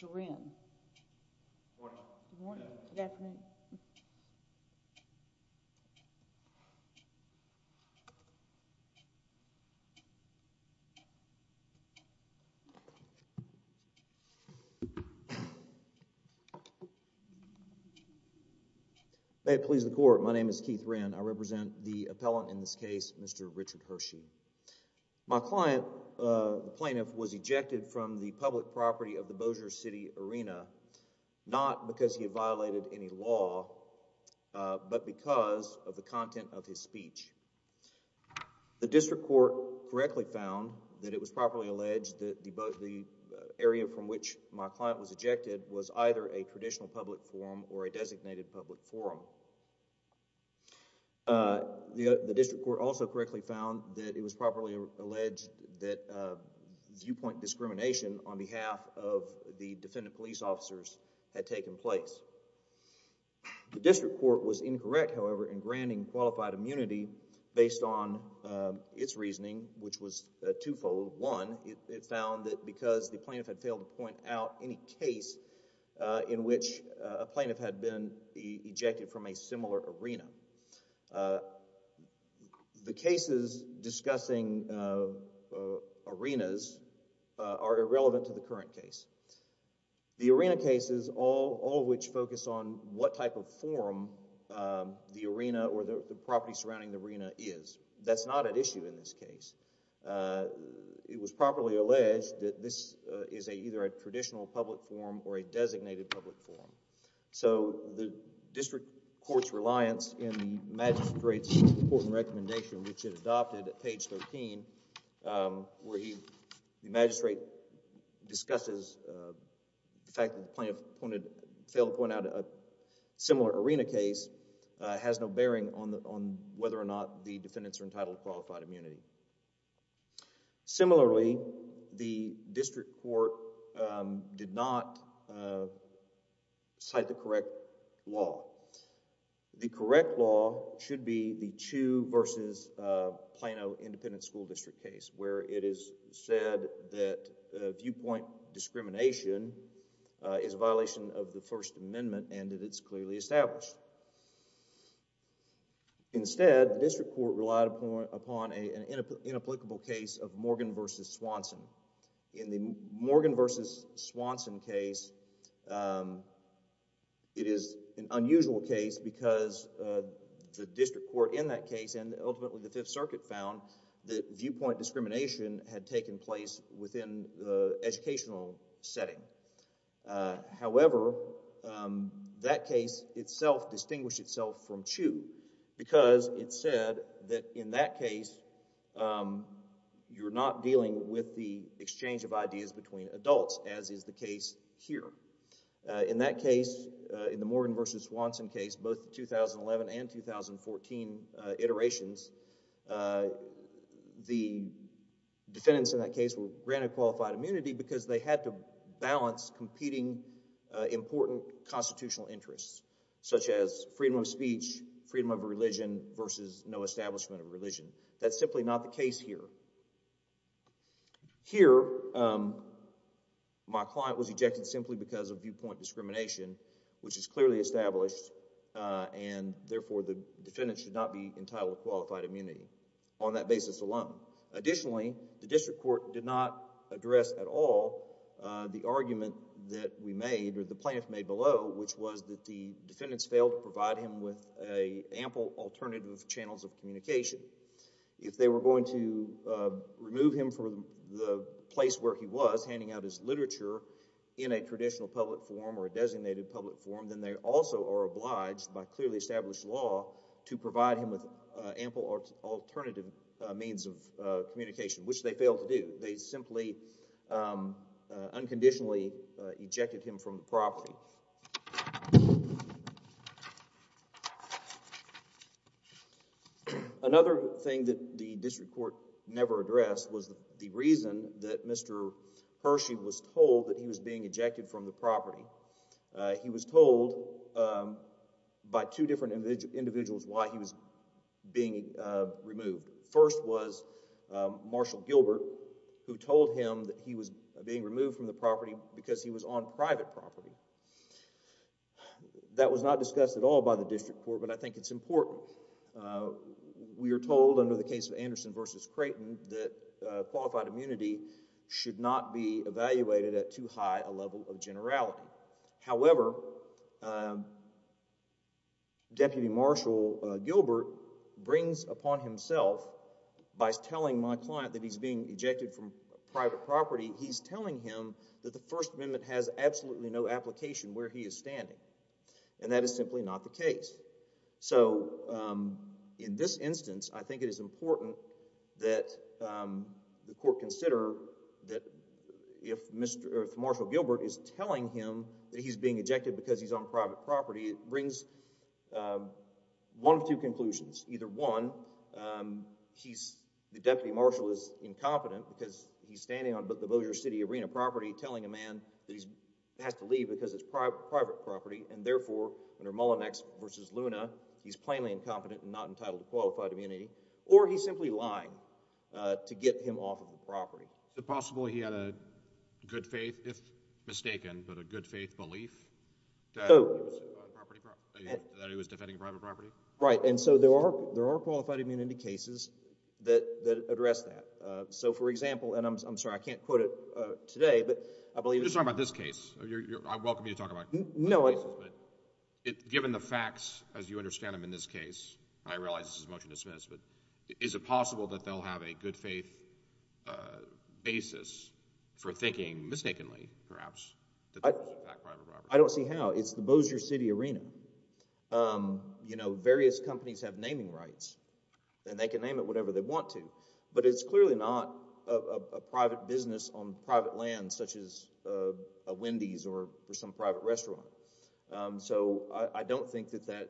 Mr. Wren, may it please the court, my name is Keith Wren, I represent the appellant in this case, Mr. Richard Hershey. My client, the plaintiff, was ejected from the public property of the Bossier City arena, not because he violated any law, but because of the content of his speech. The district court correctly found that it was properly alleged that the area from which my client was ejected was either a traditional public forum or a designated public forum. The district court also correctly found that it was properly alleged that viewpoint discrimination on behalf of the defendant police officers had taken place. The district court was incorrect, however, in granting qualified immunity based on its reasoning, which was twofold. One, it found that because the plaintiff had failed to point out any case in which a plaintiff had been ejected from a similar arena, the cases discussing arenas are irrelevant to the current case. The arena cases, all of which focus on what type of forum the arena or the property surrounding the arena is, that's not at issue in this case. It was properly alleged that this is either a court's reliance in the magistrate's important recommendation, which it adopted at page 13, where the magistrate discusses the fact that the plaintiff failed to point out a similar arena case, has no bearing on whether or not the defendants are entitled to qualified immunity. The correct law should be the Chiu v. Plano Independent School District case, where it is said that viewpoint discrimination is a violation of the First Amendment and that it's clearly established. Instead, the district court relied upon an inapplicable case of Morgan v. Swanson. In the Morgan v. Swanson case, it is an unusual case because the district court in that case and ultimately the Fifth Circuit found that viewpoint discrimination had taken place within the educational setting. However, that case itself distinguished itself from Chiu because it said that in that case you're not dealing with the exchange of ideas between adults, as is the case here. In that case, in the Morgan v. Swanson case, both the 2011 and 2014 iterations, the defendants in that case were granted qualified immunity because they had to freedom of religion versus no establishment of religion. That's simply not the case here. Here, my client was ejected simply because of viewpoint discrimination, which is clearly established and therefore the defendant should not be entitled to qualified immunity on that basis alone. Additionally, the district court did not address at all the argument that we made or the plaintiff made below, which was that the defendants failed to provide him with ample alternative channels of communication. If they were going to remove him from the place where he was, handing out his literature in a traditional public forum or a designated public forum, then they also are obliged by clearly established law to provide him with ample alternative means of communication, which they failed to do. They simply unconditionally ejected him from the property. Another thing that the district court never addressed was the reason that Mr. Hershey was told that he was being ejected from the property. He was told by two different individuals why he was being removed. First was Marshal Gilbert, who told him that he was being removed from the property because he was on private property. That was not discussed at all by the district court, but I think it's important. We are told under the case of Anderson v. Creighton that qualified immunity should not be evaluated at too high a level of generality. However, Deputy Marshal Gilbert brings upon himself by telling my client that he's being ejected from private property. The First Amendment has absolutely no application where he is standing, and that is simply not the case. So, in this instance, I think it is important that the court consider that if Marshal Gilbert is telling him that he's being ejected because he's on private property, it brings one of two conclusions. Either one, the Deputy Marshal is incompetent because he's standing on the Bossier City Arena property telling a man that he has to leave because it's private property, and therefore, under Mullinex v. Luna, he's plainly incompetent and not entitled to qualified immunity, or he's simply lying to get him off of the property. Is it possible he had a good faith, if mistaken, but a good faith belief that he was defending private property? Right, and so there are qualified immunity cases that address that. So, for example, and I'm sorry, I can't quote it today, but I believe— You're talking about this case. I welcome you to talk about— No, I— But given the facts as you understand them in this case, I realize this is a motion to dismiss, but is it possible that they'll have a good faith basis for thinking, mistakenly, perhaps, that they're on private property? I don't see how. It's the Bossier City Arena. You know, various companies have naming rights, and they can name it whatever they want to, but it's clearly not a private business on private land, such as a Wendy's or some private restaurant. So, I don't think that that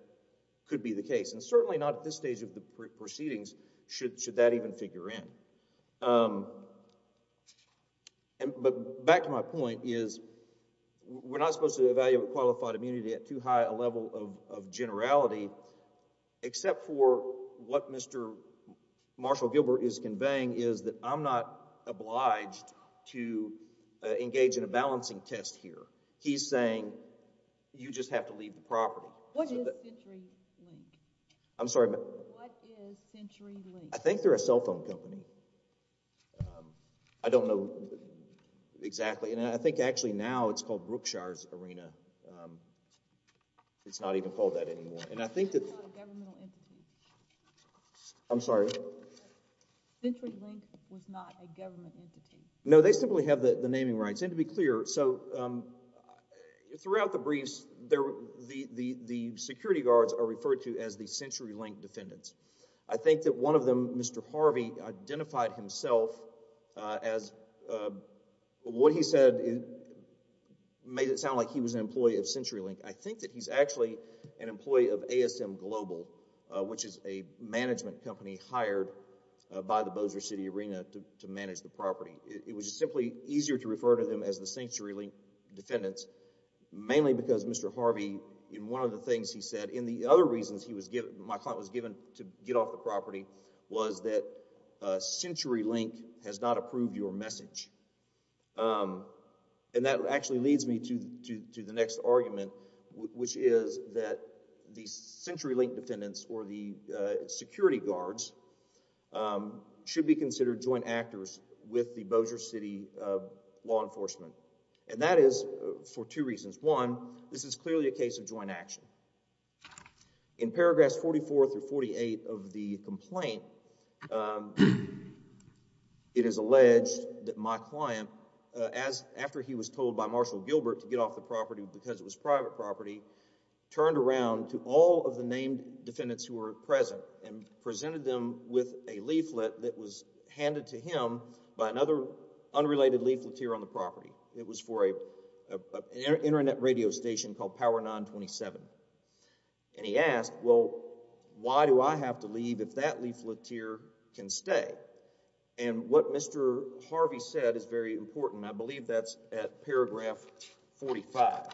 could be the case, and certainly not at this stage of the proceedings should that even figure in. But back to my point is we're not supposed to evaluate qualified immunity at too high a level of generality, except for what Mr. Marshall Gilbert is conveying is that I'm not obliged to engage in a balancing test here. He's saying you just have to leave the property. What is CenturyLink? I'm sorry? What is CenturyLink? I think they're a cell phone company. I don't know exactly, and I think actually now it's called Brookshire's Arena. It's not even called that anymore, and I think that... I'm sorry? CenturyLink was not a government entity. No, they simply have the naming rights, and to be clear, so throughout the briefs, the security guards are referred to as the CenturyLink defendants. I think that one of them, Mr. Harvey, identified himself as what he said made it sound like he was an employee of CenturyLink. I think that he's actually an employee of ASM Global, which is a management company hired by the Bossier City Arena to manage the property. It was simply easier to refer to them as the CenturyLink defendants, mainly because Mr. Harvey, in one of the things he said, in the other reasons he was given, my client was given to get off the property, was that CenturyLink has not approved your message, and that actually leads me to the next argument, which is that the CenturyLink defendants or the security guards should be considered joint actors with the Bossier City law enforcement, and that is for two reasons. One, this is clearly a case of joint action. In paragraphs 44 through 48 of the complaint, it is alleged that my client, after he was told by Marshall Gilbert to get off the property because it was private property, turned around to all of the named defendants who were present and presented them with a leaflet that was handed to him by another unrelated leafleteer on the radio station called Power 927, and he asked, well, why do I have to leave if that leafleteer can stay, and what Mr. Harvey said is very important. I believe that's at paragraph 45,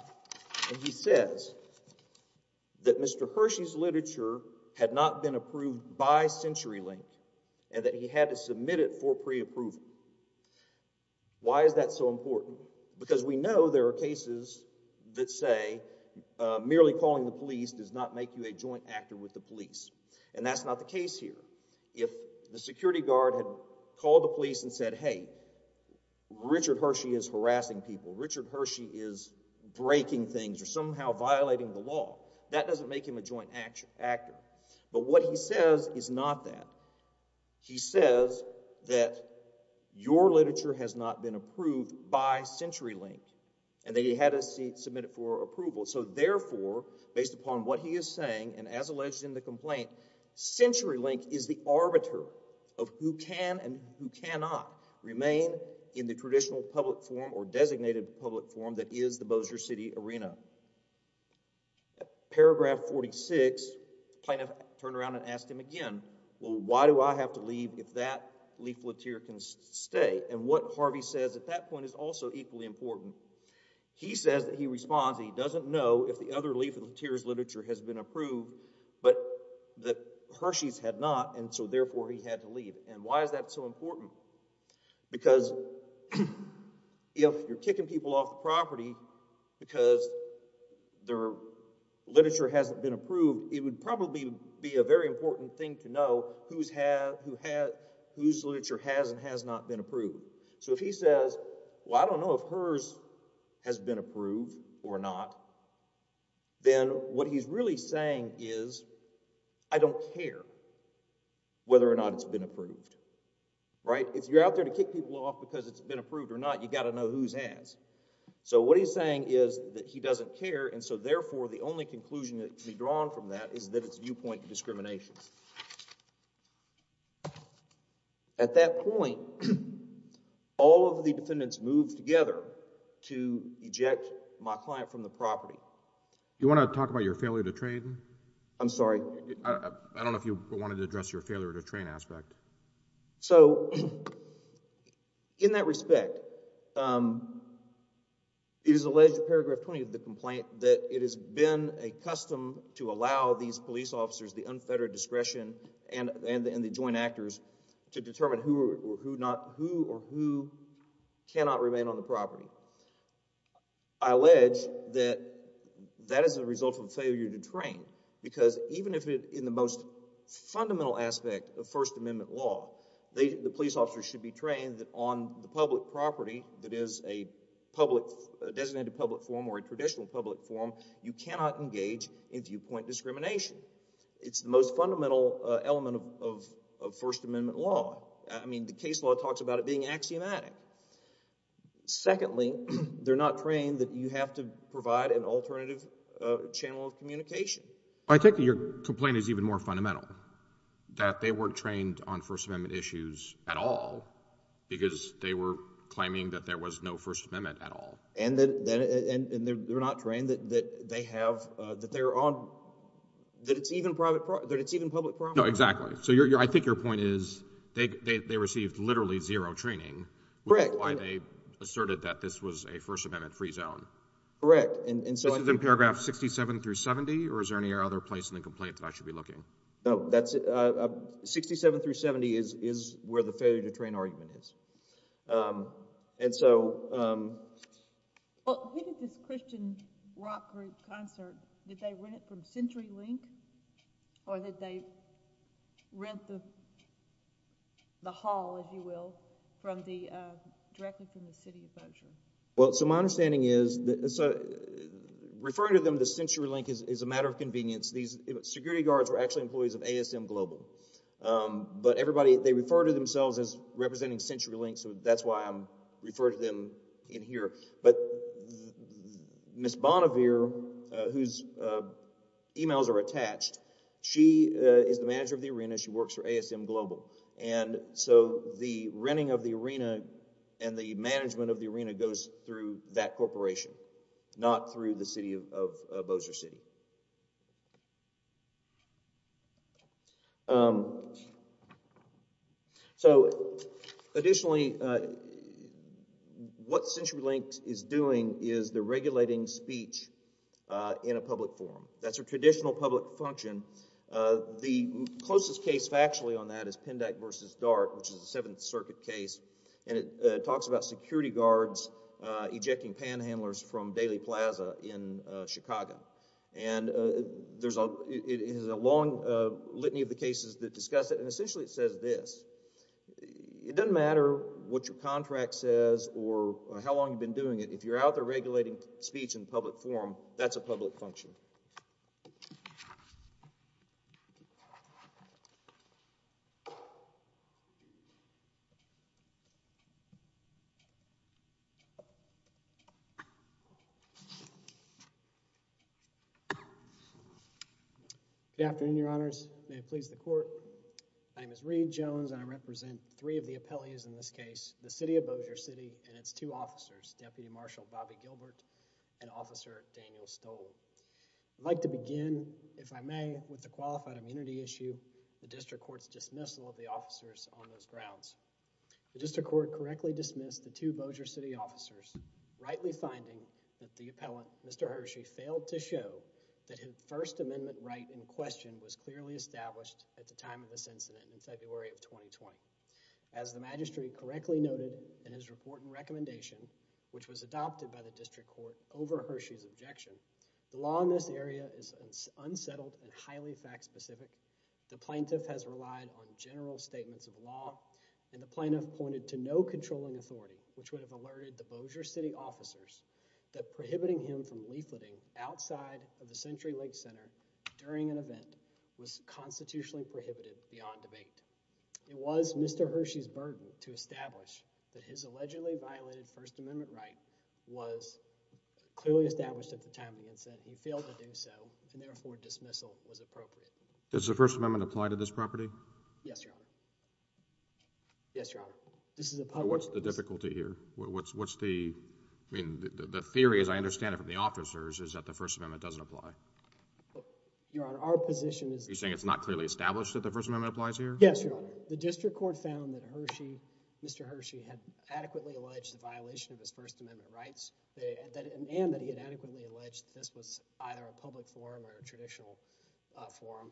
and he says that Mr. Hershey's literature had not been approved by CenturyLink and that he had to say merely calling the police does not make you a joint actor with the police, and that's not the case here. If the security guard had called the police and said, hey, Richard Hershey is harassing people, Richard Hershey is breaking things or somehow violating the law, that doesn't make him a joint actor, but what he says is not that. He says that your literature has not been approved by CenturyLink and that he had to submit it for approval, so therefore, based upon what he is saying and as alleged in the complaint, CenturyLink is the arbiter of who can and who cannot remain in the traditional public forum or designated public forum that is the Bossier City Arena. Paragraph 46, the plaintiff turned around and asked him again, well, why do I have to leave if that leafleteer can stay, and what Harvey says at that point is also equally important. He says that he responds that he doesn't know if the other leafleteer's literature has been approved, but that Hershey's had not, and so therefore, he had to leave, and why is that so important? Because if you're kicking people off property because their literature hasn't been approved, it would probably be a very important thing to know whose literature has and has not been approved, so if he says, well, I don't know if hers has been approved or not, then what he's really saying is I don't care whether or not it's been approved, right? If you're out there to kick people off because it's been approved or not, you've got to know whose has, so what he's saying is that he doesn't care, and so therefore, the only conclusion that can be drawn from that is that it's viewpoint discrimination. At that point, all of the defendants moved together to eject my client from the property. You want to talk about your failure to train? I'm sorry? I don't know if you wanted to address your failure to train aspect. So, in that respect, it is alleged in paragraph 20 of the complaint that it has been a custom to allow these police officers the unfettered discretion and the joint actors to determine who or who cannot remain on the property. I allege that that is a result of failure to train, because even if in the most fundamental aspect of First Amendment law, the police officers should be trained that on the public property that is a designated public form or a traditional public form, you cannot engage in viewpoint discrimination. It's the most fundamental element of First Amendment law. I mean, the case law talks about it being axiomatic. Secondly, they're not trained that you have to provide an alternative channel of communication. I think that your complaint is even more fundamental, that they weren't trained on First Amendment issues at all, because they were claiming that there was no First Amendment at all. And they're not trained that they have, that they're on, that it's even public property. No, exactly. So, I think your point is they received literally zero training. Correct. Why they asserted that this was a First Amendment free zone. Correct. This is in paragraph 67 through 70, or is there any other place in the complaint that I should be looking? No, that's it. 67 through 70 is where the failure to train argument is. And so. Well, who did this Christian rock group concert, did they rent it from CenturyLink, or did they rent the hall, if you will, from the, directly from the city of Berkshire? Well, so my understanding is, referring to them as CenturyLink is a matter of convenience. These security guards were actually employees of ASM Global. But everybody, they refer to themselves as representing CenturyLink, so that's why I'm referring to them in here. But Ms. Bonnevere, whose emails are attached, she is the manager of the arena, she works for ASM and goes through that corporation, not through the city of Bozer City. So, additionally, what CenturyLink is doing is they're regulating speech in a public forum. That's a traditional public function. The closest case factually on that is Pendak versus Dart, which is a Seventh Circuit case, and it talks about security guards ejecting panhandlers from Daly Plaza in Chicago. And there's a, it has a long litany of the cases that discuss it, and essentially it says this. It doesn't matter what your contract says or how long you've been doing it, if you're out there regulating speech in public forum, that's a public function. Good afternoon, Your Honors. May it please the Court. My name is Reed Jones, and I represent three of the appellees in this case, the city of Bozer City and its two officers, Deputy Marshal Bobby Gilbert and Officer Daniel Stoll. I'd like to begin, if I may, with the qualified immunity issue, the District Court's dismissal of the officers on those grounds. The District Court correctly dismissed the two Bozer City officers, rightly finding that the appellant, Mr. Hershey, failed to show that his First Amendment right in question was clearly established at the time of this incident in February of 2020. As the magistrate correctly noted in his report and recommendation, which was adopted by the District Court over Hershey's objection, the law in this area is unsettled and highly fact-specific. The plaintiff has relied on general statements of law, and the plaintiff pointed to no controlling authority which would have alerted the Bozer City officers that prohibiting him from leafleting outside of the Century Lake Center during an event was constitutionally prohibited beyond debate. It was Mr. Hershey's burden to establish that his allegedly violated First Amendment right was clearly established at the time of the incident. He failed to do so, and therefore dismissal was appropriate. Does the First Amendment apply to this property? Yes, Your Honor. Yes, Your Honor. This is a public... What's the difficulty here? What's the, I mean, the theory as I understand it from the officers is that the First Amendment doesn't apply. Your Honor, our position is... You're saying it's not clearly established that the First Amendment applies here? Yes, Your Honor. The District Court found that Hershey, Mr. Hershey, had adequately alleged the this was either a public forum or a traditional forum,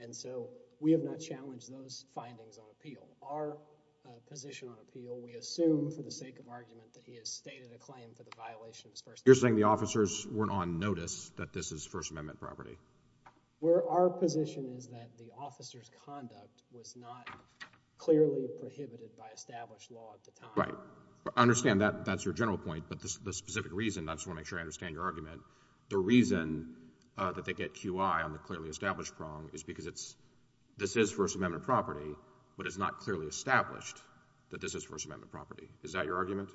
and so we have not challenged those findings on appeal. Our position on appeal, we assume for the sake of argument that he has stated a claim for the violation of First Amendment. You're saying the officers weren't on notice that this is First Amendment property? Our position is that the officer's conduct was not clearly prohibited by established law at the time. Right. I understand that. That's your general point, but the specific reason, I just want to make sure I understand your argument, the reason that they get QI on the clearly established prong is because it's, this is First Amendment property, but it's not clearly established that this is First Amendment property. Is that your argument?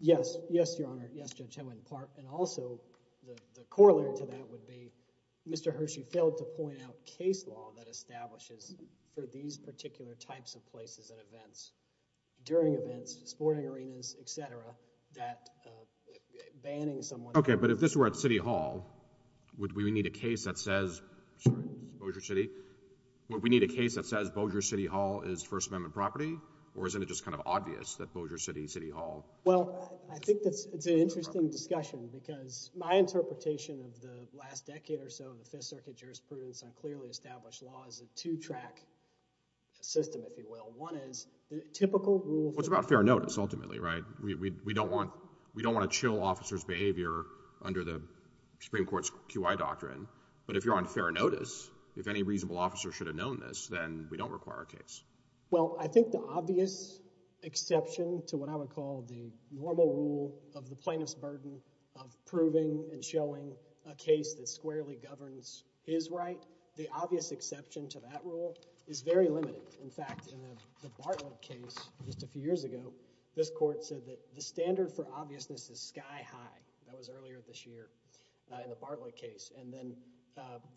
Yes. Yes, Your Honor. Yes, Judge Edwin Clark, and also the corollary to that would be Mr. Hershey failed to point out case law that establishes for these particular types of places and events during events, sporting arenas, etc., that banning someone. Okay, but if this were at City Hall, would we need a case that says, sorry, it's Bossier City, would we need a case that says Bossier City Hall is First Amendment property, or isn't it just kind of obvious that Bossier City, City Hall? Well, I think that's, it's an interesting discussion because my interpretation of the last decade or so of the Fifth Circuit jurisprudence on clearly established law is a two-track system, if you will. One is the typical rule. It's about fair notice, ultimately, right? We don't want, we don't want to chill officers' behavior under the Supreme Court's QI doctrine, but if you're on fair notice, if any reasonable officer should have known this, then we don't require a case. Well, I think the obvious exception to what I would call the normal rule of the plaintiff's burden of proving and showing a case that squarely governs his right, the obvious exception to that is very limited. In fact, in the Bartlett case just a few years ago, this court said that the standard for obviousness is sky high. That was earlier this year in the Bartlett case, and then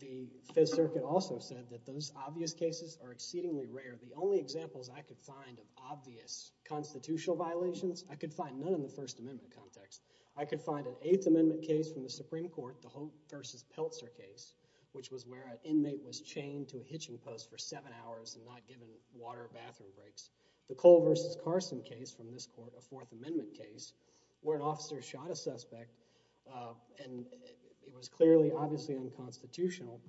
the Fifth Circuit also said that those obvious cases are exceedingly rare. The only examples I could find of obvious constitutional violations, I could find none in the First Amendment context. I could find an Eighth Amendment case from the Supreme Court, the Hope v. Peltzer case, which was where an inmate was chained to a hitching post for seven hours and not given water or bathroom breaks. The Cole v. Carson case from this court, a Fourth Amendment case, where an officer shot a suspect, and it was clearly, obviously, unconstitutional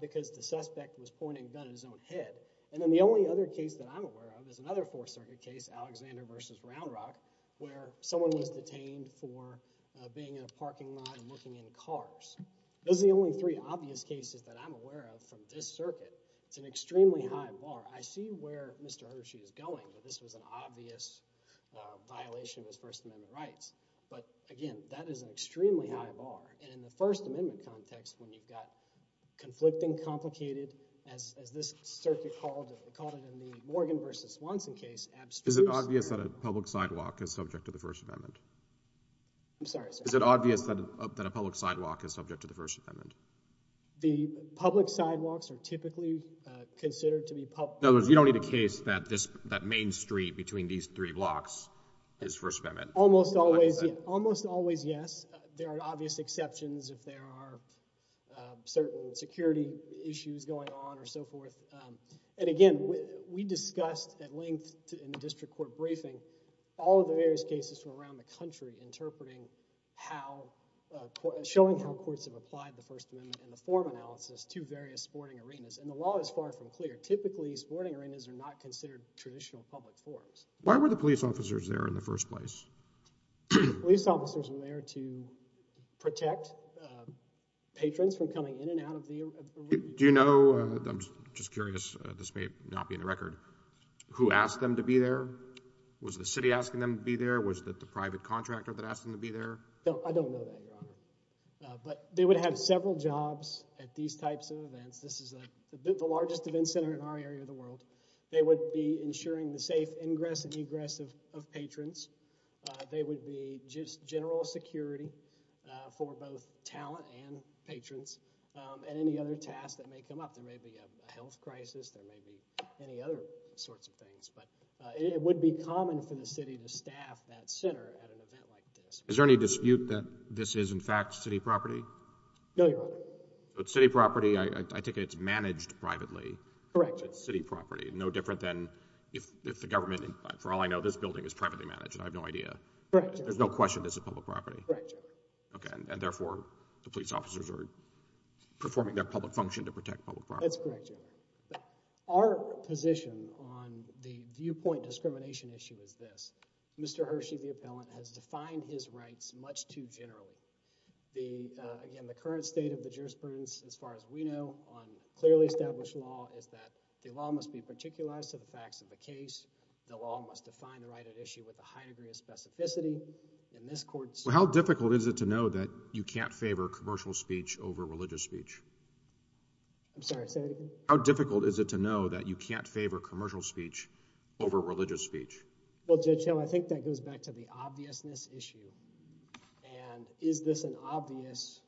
because the suspect was pointing a gun at his own head. And then the only other case that I'm aware of is another Fourth Circuit case, Alexander v. Round Rock, where someone was detained for being in a parking lot and looking into cars. Those are the only three obvious cases that I'm aware of from this circuit. It's an extremely high bar. I see where Mr. Hershey is going, that this was an obvious violation of his First Amendment rights. But again, that is an extremely high bar, and in the First Amendment context, when you've got conflicting, complicated, as this circuit called it in the Morgan v. Swanson case, abstruse. Is it obvious that a public sidewalk is subject to the First Amendment? I'm sorry, sir. Is it obvious that a public sidewalk is subject to the First Amendment? The public sidewalks are typically considered to be public. In other words, you don't need a case that this, that main street between these three blocks is First Amendment. Almost always, almost always, yes. There are obvious exceptions if there are certain security issues going on or so forth. And again, we discussed at length in the district court briefing, all of the various cases from around the country interpreting how, showing how courts have applied the First Amendment and the form analysis to various sporting arenas. And the law is far from clear. Typically, sporting arenas are not considered traditional public forms. Why were the police officers there in the first place? Police officers were there to protect patrons from coming in and out of the arena. Do you know, I'm just curious, this may not be in the record, who asked them to be there? Was the city asking them to be there? Was it the private contractor that asked them to be there? I don't know that, Your Honor. But they would have several jobs at these types of events. This is the largest event center in our area of the world. They would be ensuring the safe ingress and egress of patrons. They would be just general security for both talent and patrons and any other tasks that may come up. There may be a health crisis, there may be any other sorts of things. But it would be common for the city to staff that center at an event like this. Is there any dispute that this is, in fact, city property? No, Your Honor. So it's city property. I take it it's managed privately. Correct. It's city property. No different than if the government, for all I know, this building is privately managed. I have no idea. Correct, Your Honor. There's no question this is public property. Correct, Your Honor. Okay. And therefore, the police officers are performing their public function to protect public property. That's correct, Your Honor. But our position on the viewpoint discrimination issue is this. Mr. Hershey, the appellant, has defined his rights much too generally. The, again, the current state of the jurisprudence, as far as we know, on clearly established law is that the law must be particularized to the facts of the case. The law must define the right at issue with a high degree of specificity. In this court's... How difficult is it to know that you can't favor commercial speech over religious speech? I'm sorry, Senator. How difficult is it to know that you can't favor commercial speech over religious speech? Well, Judge Hill, I think that goes back to the obviousness issue. And is this an obvious...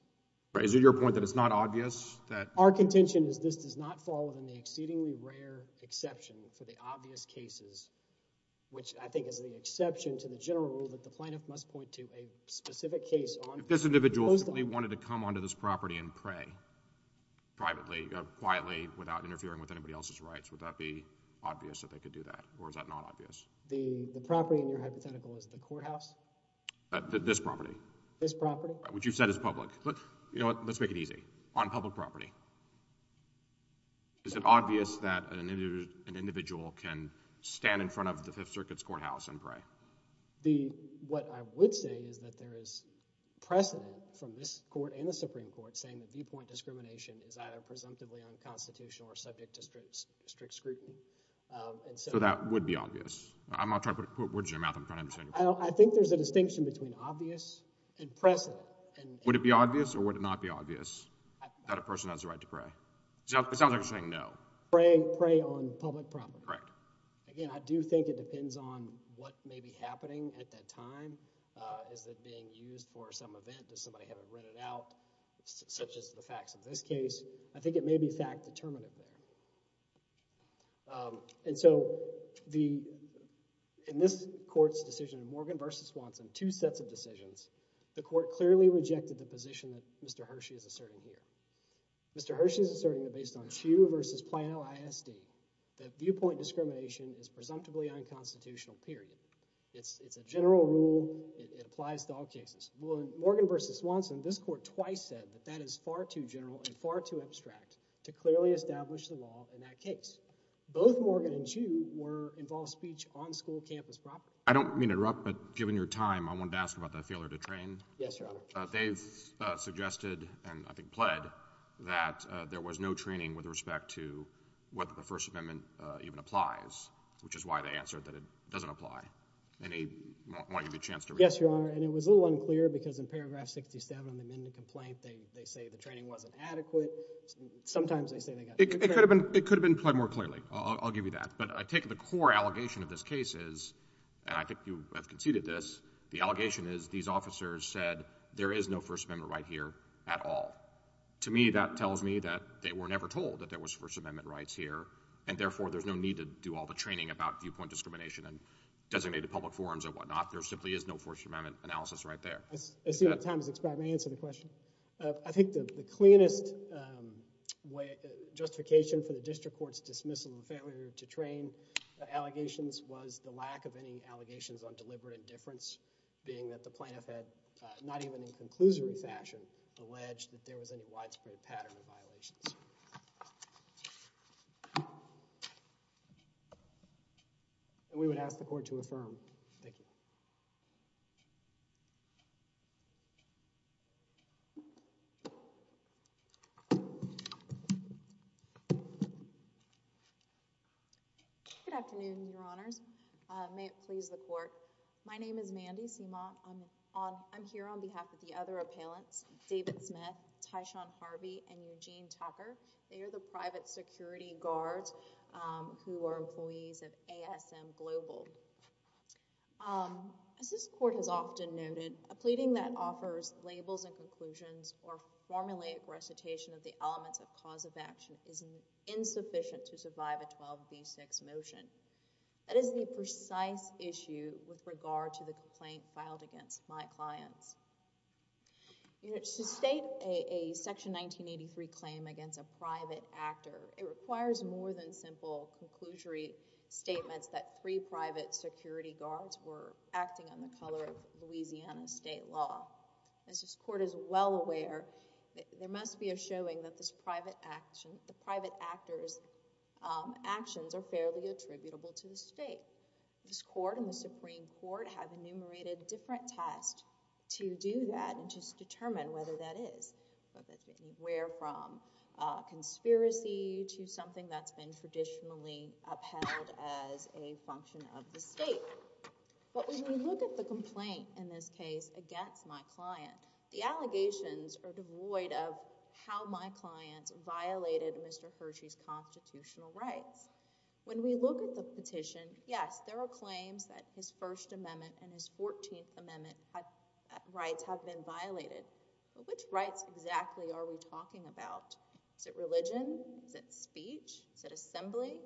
Right. Is it your point that it's not obvious that... Our contention is this does not fall within the exceedingly rare exception for the obvious cases, which I think is the exception to the general rule that the plaintiff must point to a specific case on... If this individual wanted to come onto this property and pray privately, quietly, without interfering with anybody else's rights, would that be obvious that they could do that? Or is that not obvious? The property in your hypothetical is the courthouse? This property. This property? Which you've said is public. You know what? Let's make it easy. On public property. Is it obvious that an individual can stand in front of the Fifth Circuit's courthouse and pray? The... What I would say is that there is precedent from this court and the Supreme Court saying that viewpoint discrimination is either presumptively unconstitutional or subject to strict scrutiny. So that would be obvious. I'm not trying to put words in your mouth. I'm trying to understand. I think there's a distinction between obvious and precedent. Would it be obvious or would it not be obvious that a person has the right to pray? It sounds like you're saying no. Pray on public property. Again, I do think it depends on what may be happening at that time. Is it being used for some event? Does somebody have it written out? Such as the facts of this case. I think it may be fact-determinant there. And so the... In this court's decision, Morgan v. Swanson, two sets of decisions, the court clearly rejected the position that Mr. Hershey is asserting here. Mr. Hershey is on Chu versus Plano ISD. That viewpoint discrimination is presumptively unconstitutional, period. It's a general rule. It applies to all cases. Morgan v. Swanson, this court twice said that that is far too general and far too abstract to clearly establish the law in that case. Both Morgan and Chu were involved in speech on school campus property. I don't mean to interrupt, but given your time, I wanted to ask about that failure to train. Yes, Your Honor. They've suggested, and I think pled, that there was no training with respect to whether the First Amendment even applies, which is why they answered that it doesn't apply. And I want to give you a chance to... Yes, Your Honor. And it was a little unclear because in paragraph 67 and then the complaint, they say the training wasn't adequate. Sometimes they say they got... It could have been pled more clearly. I'll give you that. But I take the core allegation of this case is, and I think you have conceded this, the allegation is these officers said there is no First Amendment right here at all. To me, that tells me that they were never told that there was First Amendment rights here, and therefore there's no need to do all the training about viewpoint discrimination and designated public forums and whatnot. There simply is no First Amendment analysis right there. I see my time has expired. May I answer the question? I think the cleanest justification for the district court's dismissal and failure to train the allegations was the lack of any allegations on deliberate indifference, being that the plaintiff had not even in conclusive fashion alleged that there was any widespread pattern of violations. We would ask the court to affirm. Thank you. Good afternoon, Your Honors. May it please the court. My name is Mandy Simot. I'm here on behalf of the other appellants, David Smith, Tyshawn Harvey, and Eugene Tucker. They are the private security guards who are employees of ASM Global. As this court has often noted, a pleading that offers labels and conclusions or formulate recitation of the elements of cause of action is insufficient to survive a 12b6 motion. That is the precise issue with regard to the complaint filed against my clients. To state a Section 1983 claim against a private actor, it requires more than simple conclusory statements that three private security guards were acting on the color of Louisiana state law. As this court is well aware, there must be a showing that this private actor's actions are fairly attributable to the state. This court and the Supreme Court have enumerated different tests to do that and to determine whether that is. Whether it's anywhere from a conspiracy to something that's been traditionally upheld as a function of the state. But when we look at the complaint in this case against my client, the allegations are devoid of how my client violated Mr. Hershey's constitutional rights. When we look at the petition, yes, there are claims that his First Amendment and his Fourteenth Amendment rights have been violated. But which rights exactly are we talking about? Is it religion? Is it speech? Is it assembly?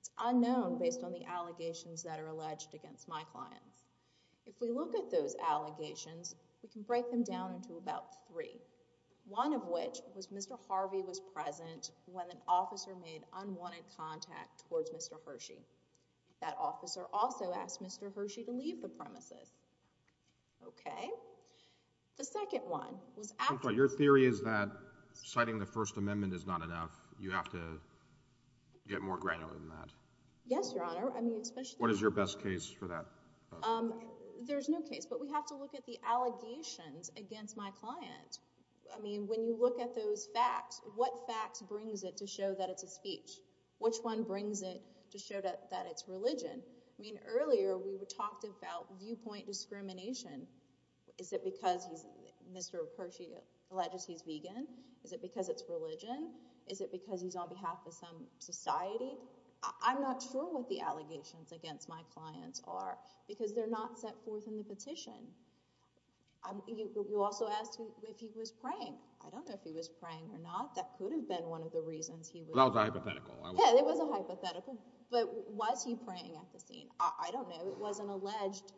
It's unknown based on the allegations that are alleged against my clients. If we look at those allegations, we can break them down into about three. One of which was Mr. Harvey was present when an officer made unwanted contact towards Mr. Hershey. That officer also asked Mr. Hershey to leave the premises. Okay. The second one was after... Your theory is that citing the First Amendment is not enough. You have to get more granular than that. Yes, Your Honor. What is your best case for that? There's no case. But we have to look at the allegations against my client. I mean, when you look at those facts, what facts brings it to show that it's a speech? Which one brings it to show that it's religion? I mean, earlier, we talked about viewpoint discrimination. Is it because Mr. Hershey alleges he's vegan? Is it because it's society? I'm not sure what the allegations against my clients are because they're not set forth in the petition. You also asked if he was praying. I don't know if he was praying or not. That could have been one of the reasons he was... It was a hypothetical. Yeah, it was a hypothetical. But was he praying at the scene? I don't know. It wasn't alleged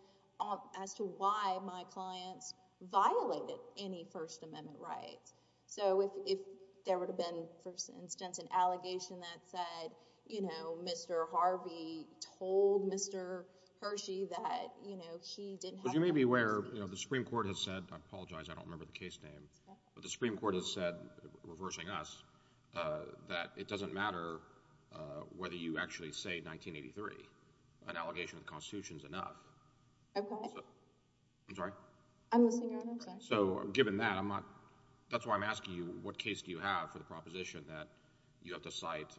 as to why my clients violated any First Amendment rights. So if there would have been, for instance, an allegation that said, you know, Mr. Harvey told Mr. Hershey that, you know, he didn't... But you may be aware, you know, the Supreme Court has said, I apologize, I don't remember the case name, but the Supreme Court has said, reversing us, that it doesn't matter whether you actually say 1983. An allegation of the given that, I'm not... That's why I'm asking you, what case do you have for the proposition that you have to cite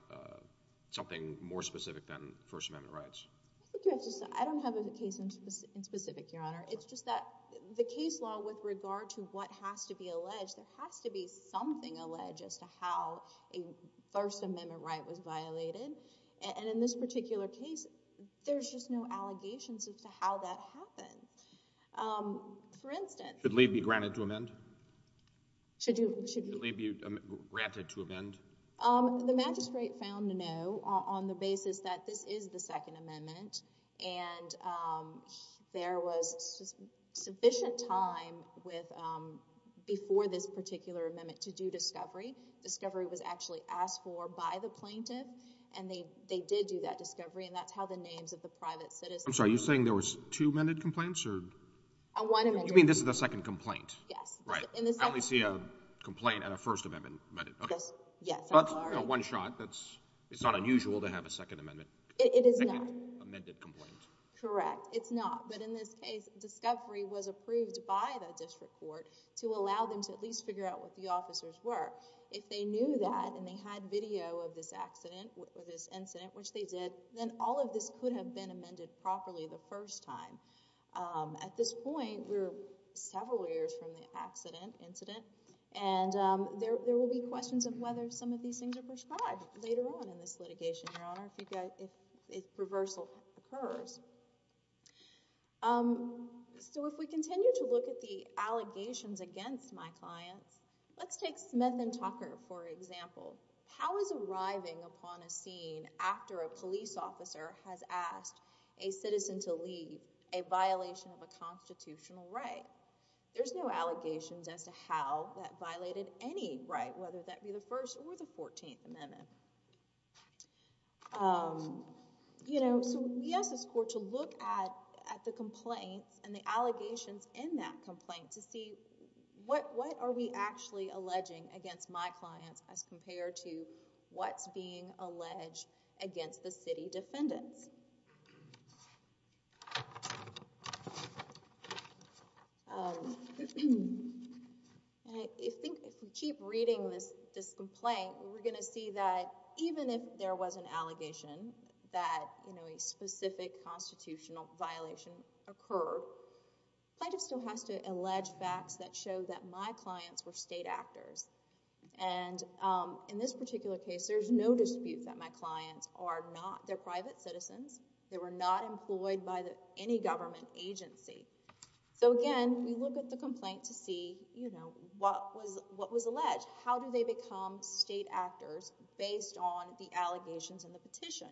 something more specific than First Amendment rights? I don't have a case in specific, Your Honor. It's just that the case law with regard to what has to be alleged, there has to be something alleged as to how a First Amendment right was violated. And in this particular case, there's just no allegations as to how that happened. For instance... Should leave be granted to amend? Should leave be granted to amend? The magistrate found no on the basis that this is the Second Amendment, and there was sufficient time with... Before this particular amendment to do discovery. Discovery was actually asked for by the plaintiff, and they did do that discovery, and that's how the names of the private citizens... I'm sorry, you're saying there was two amended complaints, or... A one amended... You mean this is the second complaint? Yes. Right. I only see a complaint and a First Amendment. Yes, I'm sorry. One shot, it's not unusual to have a Second Amendment. It is not. Second amended complaint. Correct. It's not. But in this case, discovery was approved by the district court to allow them to figure out what the officers were. If they knew that, and they had video of this incident, which they did, then all of this could have been amended properly the first time. At this point, we're several years from the incident, and there will be questions of whether some of these things are prescribed later on in this litigation, Your Honor, if reversal occurs. If we continue to look at the allegations against my clients, let's take Smith and Tucker, for example. How is arriving upon a scene after a police officer has asked a citizen to leave a violation of a constitutional right? There's no allegations as to how that violated any right, whether that be the First or the Fourteenth Amendment. So we ask this court to look at the complaints and the allegations in that complaint to see what are we actually alleging against my clients as compared to what's being alleged against the city defendants. And I think if we keep reading this complaint, we're going to see that even if there was an allegation that a specific constitutional violation occurred, plaintiff still has to allege facts that show that my clients were state actors. And in this particular case, there's no dispute that my clients are not. They're private citizens. They were not employed by any government agency. So again, we look at the complaint to see what was alleged. How do they become state actors based on the allegations in the petition?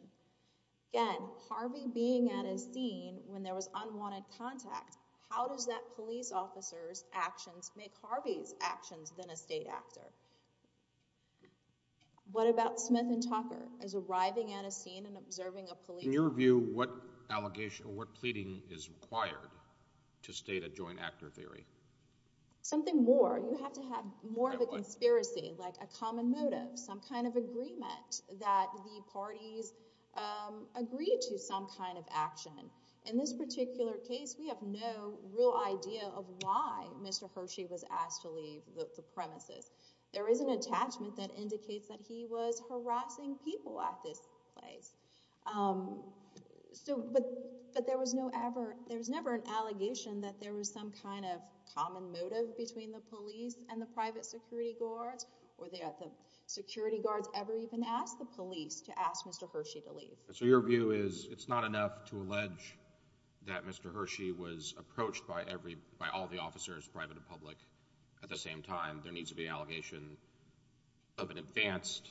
Again, Harvey being at his scene when there was unwanted contact, how does that police officer's actions make Harvey's actions than a state actor? What about Smith and Tucker as arriving at a scene and observing a police— In your view, what allegation or what pleading is required to state a joint actor theory? Something more. You have to have more of a conspiracy, like a common motive, some kind of agreement that the parties agree to some kind of action. In this particular case, we have no real idea of why Mr. Hershey was asked to leave the premises. There is an attachment that indicates that he was harassing people at this place. But there was never an allegation that there was some kind of common motive between the police and the private security guards, or the security guards ever even asked the police to ask Mr. Hershey to leave. So your view is it's not enough to allege that Mr. Hershey was approached by all the officers, private and public, at the same time. There needs to be an allegation of an advanced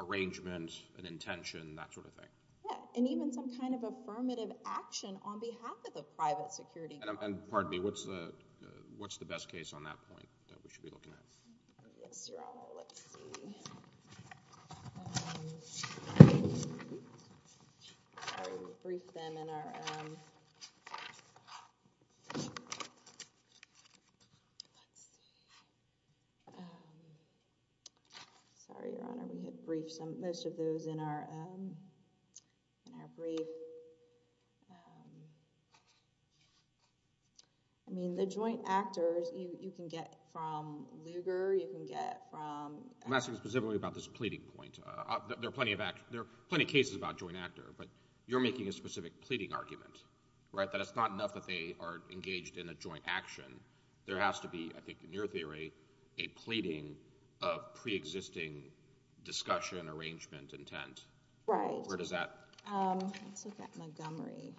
arrangement, an intention, that sort of thing. Yeah, and even some kind of affirmative action on behalf of the private security— And pardon me, what's the best case on that point that we should be looking at? Yes, Your Honor, let's see. Sorry, we'll brief them in our— Sorry, Your Honor, we need to brief most of those in our brief. I mean, the joint actors, you can get from Lugar, you can get from— I'm asking specifically about this pleading point. There are plenty of cases about joint actor, but you're making a specific pleading argument, right, that it's not enough that they are engaged in a joint action. There has to be, I think in your theory, a pleading of pre-existing discussion, arrangement, intent. Right. Where does that— Let's look at Montgomery.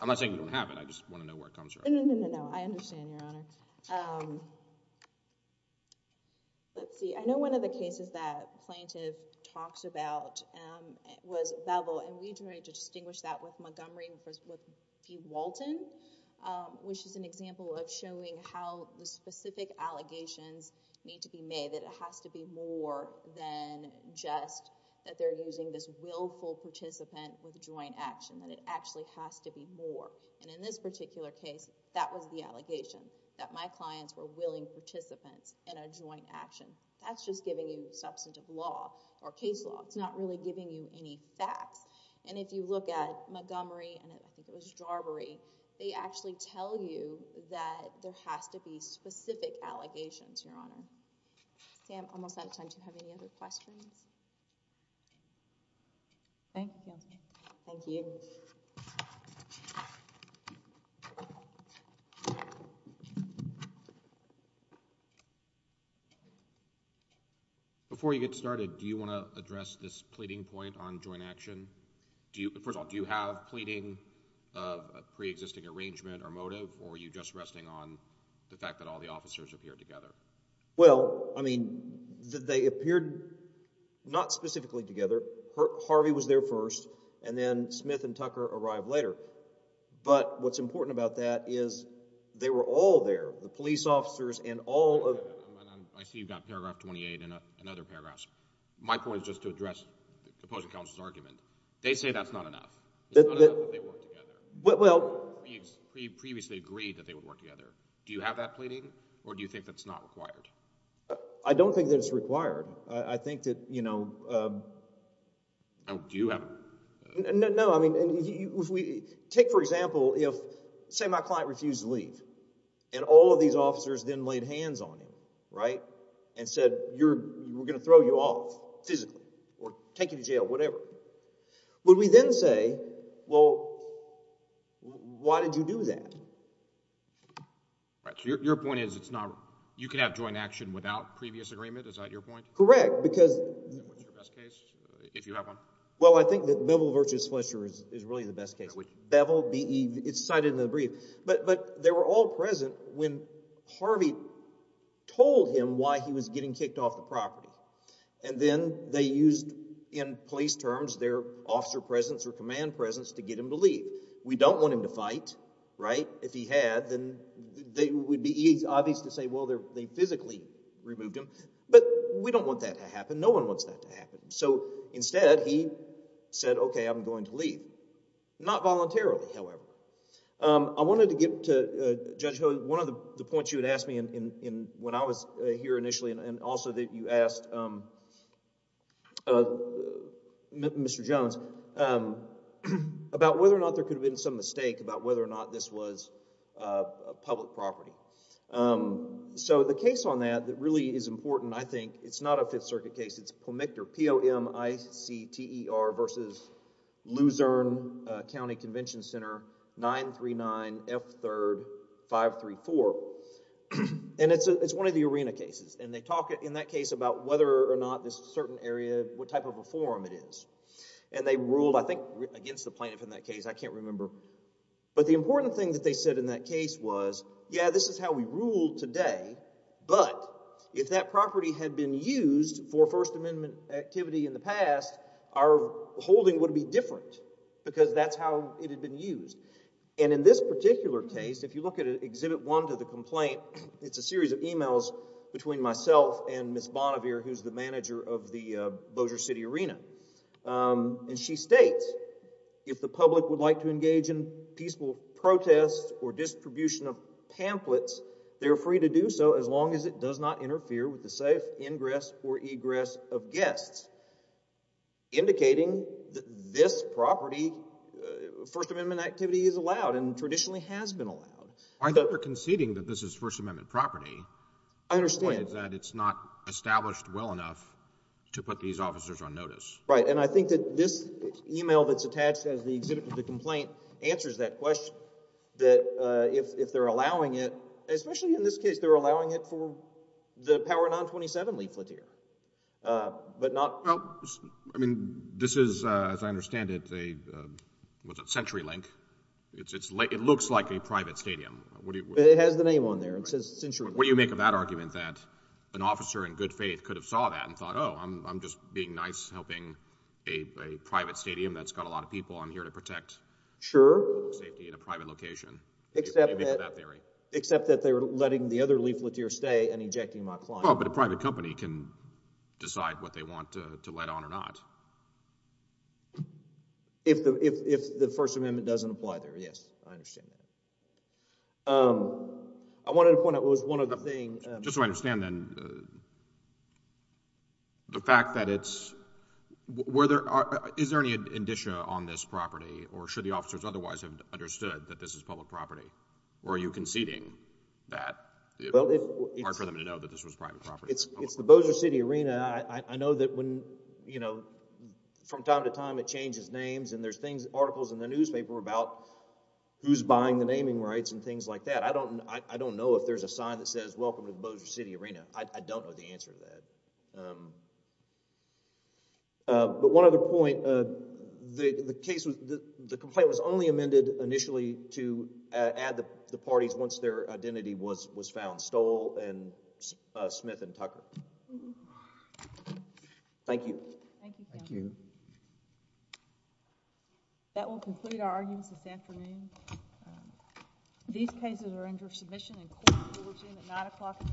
I'm not saying we don't have it. I just want to know where it comes from. No, no, no, no, no. I understand, Your Honor. Let's see. I know one of the cases that Plaintiff talks about was Beville, and we try to distinguish that with Montgomery and with P. Walton, which is an example of showing how the specific allegations need to be made, that it has to be more than just that they're using this willful participant with joint action, that it actually has to be more. And in this particular case, that was the allegation, that my clients were willing participants in a joint action. That's just giving you substantive law or case law. It's not really giving you any facts. And if you look at Montgomery, and I think it was Jarboree, they actually tell you that there has to be specific allegations, Your Honor. Sam, I'm almost out of time. Do you have any other questions? Thank you. Before you get started, do you want to address this pleading point on joint action? First of all, do you have pleading of a preexisting arrangement or motive, or are you just resting on the fact that all the officers appeared together? Well, I mean, they appeared not specifically together. Harvey was there first, and then Smith and Tucker arrived later. But what's important about that is they were all there, the police officers and all of... I see you've got paragraph 28 and other paragraphs. My point is just to address the opposing counsel's argument. They say that's not enough. Previously agreed that they would work together. Do you have that pleading, or do you think that's not required? I don't think that it's required. I think that, you know... No, do you have it? No, I mean, if we take, for example, if, say, my client refused to leave, and all of these officers then laid hands on him, right, and said, we're going to throw you off physically, or take you to jail, whatever. Would we then say, well, why did you do that? Right. So your point is it's not... You can have joint action without previous agreement. Is that your point? Correct, because... What's your best case, if you have one? Well, I think that Beville v. Fletcher is really the best case. Beville, B-E, it's cited in the brief. But they were all present when Harvey told him why he was getting kicked off the property. And then they used, in police terms, their officer presence or command presence to get him to leave. We don't want him to fight, right? If he had, then it would be obvious to say, well, they physically removed him. But we don't want that to happen. No one wants that to happen. So instead, he said, okay, I'm going to leave. Not voluntarily, however. I wanted to get to, Judge Hogan, one of the points you had asked me when I was here initially, and also that you asked Mr. Jones about whether or not there could have been some mistake about whether or not this was a public property. So the case on that that really is important, I think, it's not a Fifth Circuit case. It's POMICTER, P-O-M-I-C-T-E-R v. Luzerne County Convention Center 939 F. 3rd 534. And it's one of the arena cases. And they talk in that case about whether or not this certain area, what type of a forum it is. And they ruled, I think, against the plaintiff in that case. I can't remember. But the important thing that they said in that case was, yeah, this is how we rule today. But if that property had been used for First Amendment activity in the And in this particular case, if you look at Exhibit 1 to the complaint, it's a series of emails between myself and Ms. Bonnevere, who's the manager of the Bossier City Arena. And she states, if the public would like to engage in peaceful protests or distribution of pamphlets, they're free to do so as long as it does not interfere with the safe allowed and traditionally has been allowed. I think they're conceding that this is First Amendment property. I understand. The point is that it's not established well enough to put these officers on notice. Right. And I think that this email that's attached as the Exhibit to the complaint answers that question, that if they're allowing it, especially in this case, they're allowing it for the Power 927 leaflet here, but not... Well, I mean, this is, as I understand it, a CenturyLink. It looks like a private stadium. It has the name on there. It says CenturyLink. What do you make of that argument that an officer in good faith could have saw that and thought, oh, I'm just being nice, helping a private stadium that's got a lot of people on here to protect safety in a private location? Except that they're letting the other leafleteer stay and ejecting my client. Well, but a private company can decide what they want to let on or not. If the First Amendment doesn't apply there, yes, I understand that. I wanted to point out, it was one of the things... Just so I understand, then, the fact that it's... Is there any indicia on this property, or should the officers otherwise have understood that this is public property? Or are you conceding that it's hard for them to know that this was private property? It's the Bossier City Arena. I know that from time to time it changes names, and there's articles in the newspaper about who's buying the naming rights and things like that. I don't know if there's a sign that says, welcome to the Bossier City Arena. I don't know the answer to that. But one other point, the complaint was only amended initially to add the parties once their identity was found, Stoll and Smith and Tucker. Thank you. Thank you. That will complete our arguments this afternoon. These cases are under submission and court will review at 9 o'clock in the morning. Thank you. Thank you.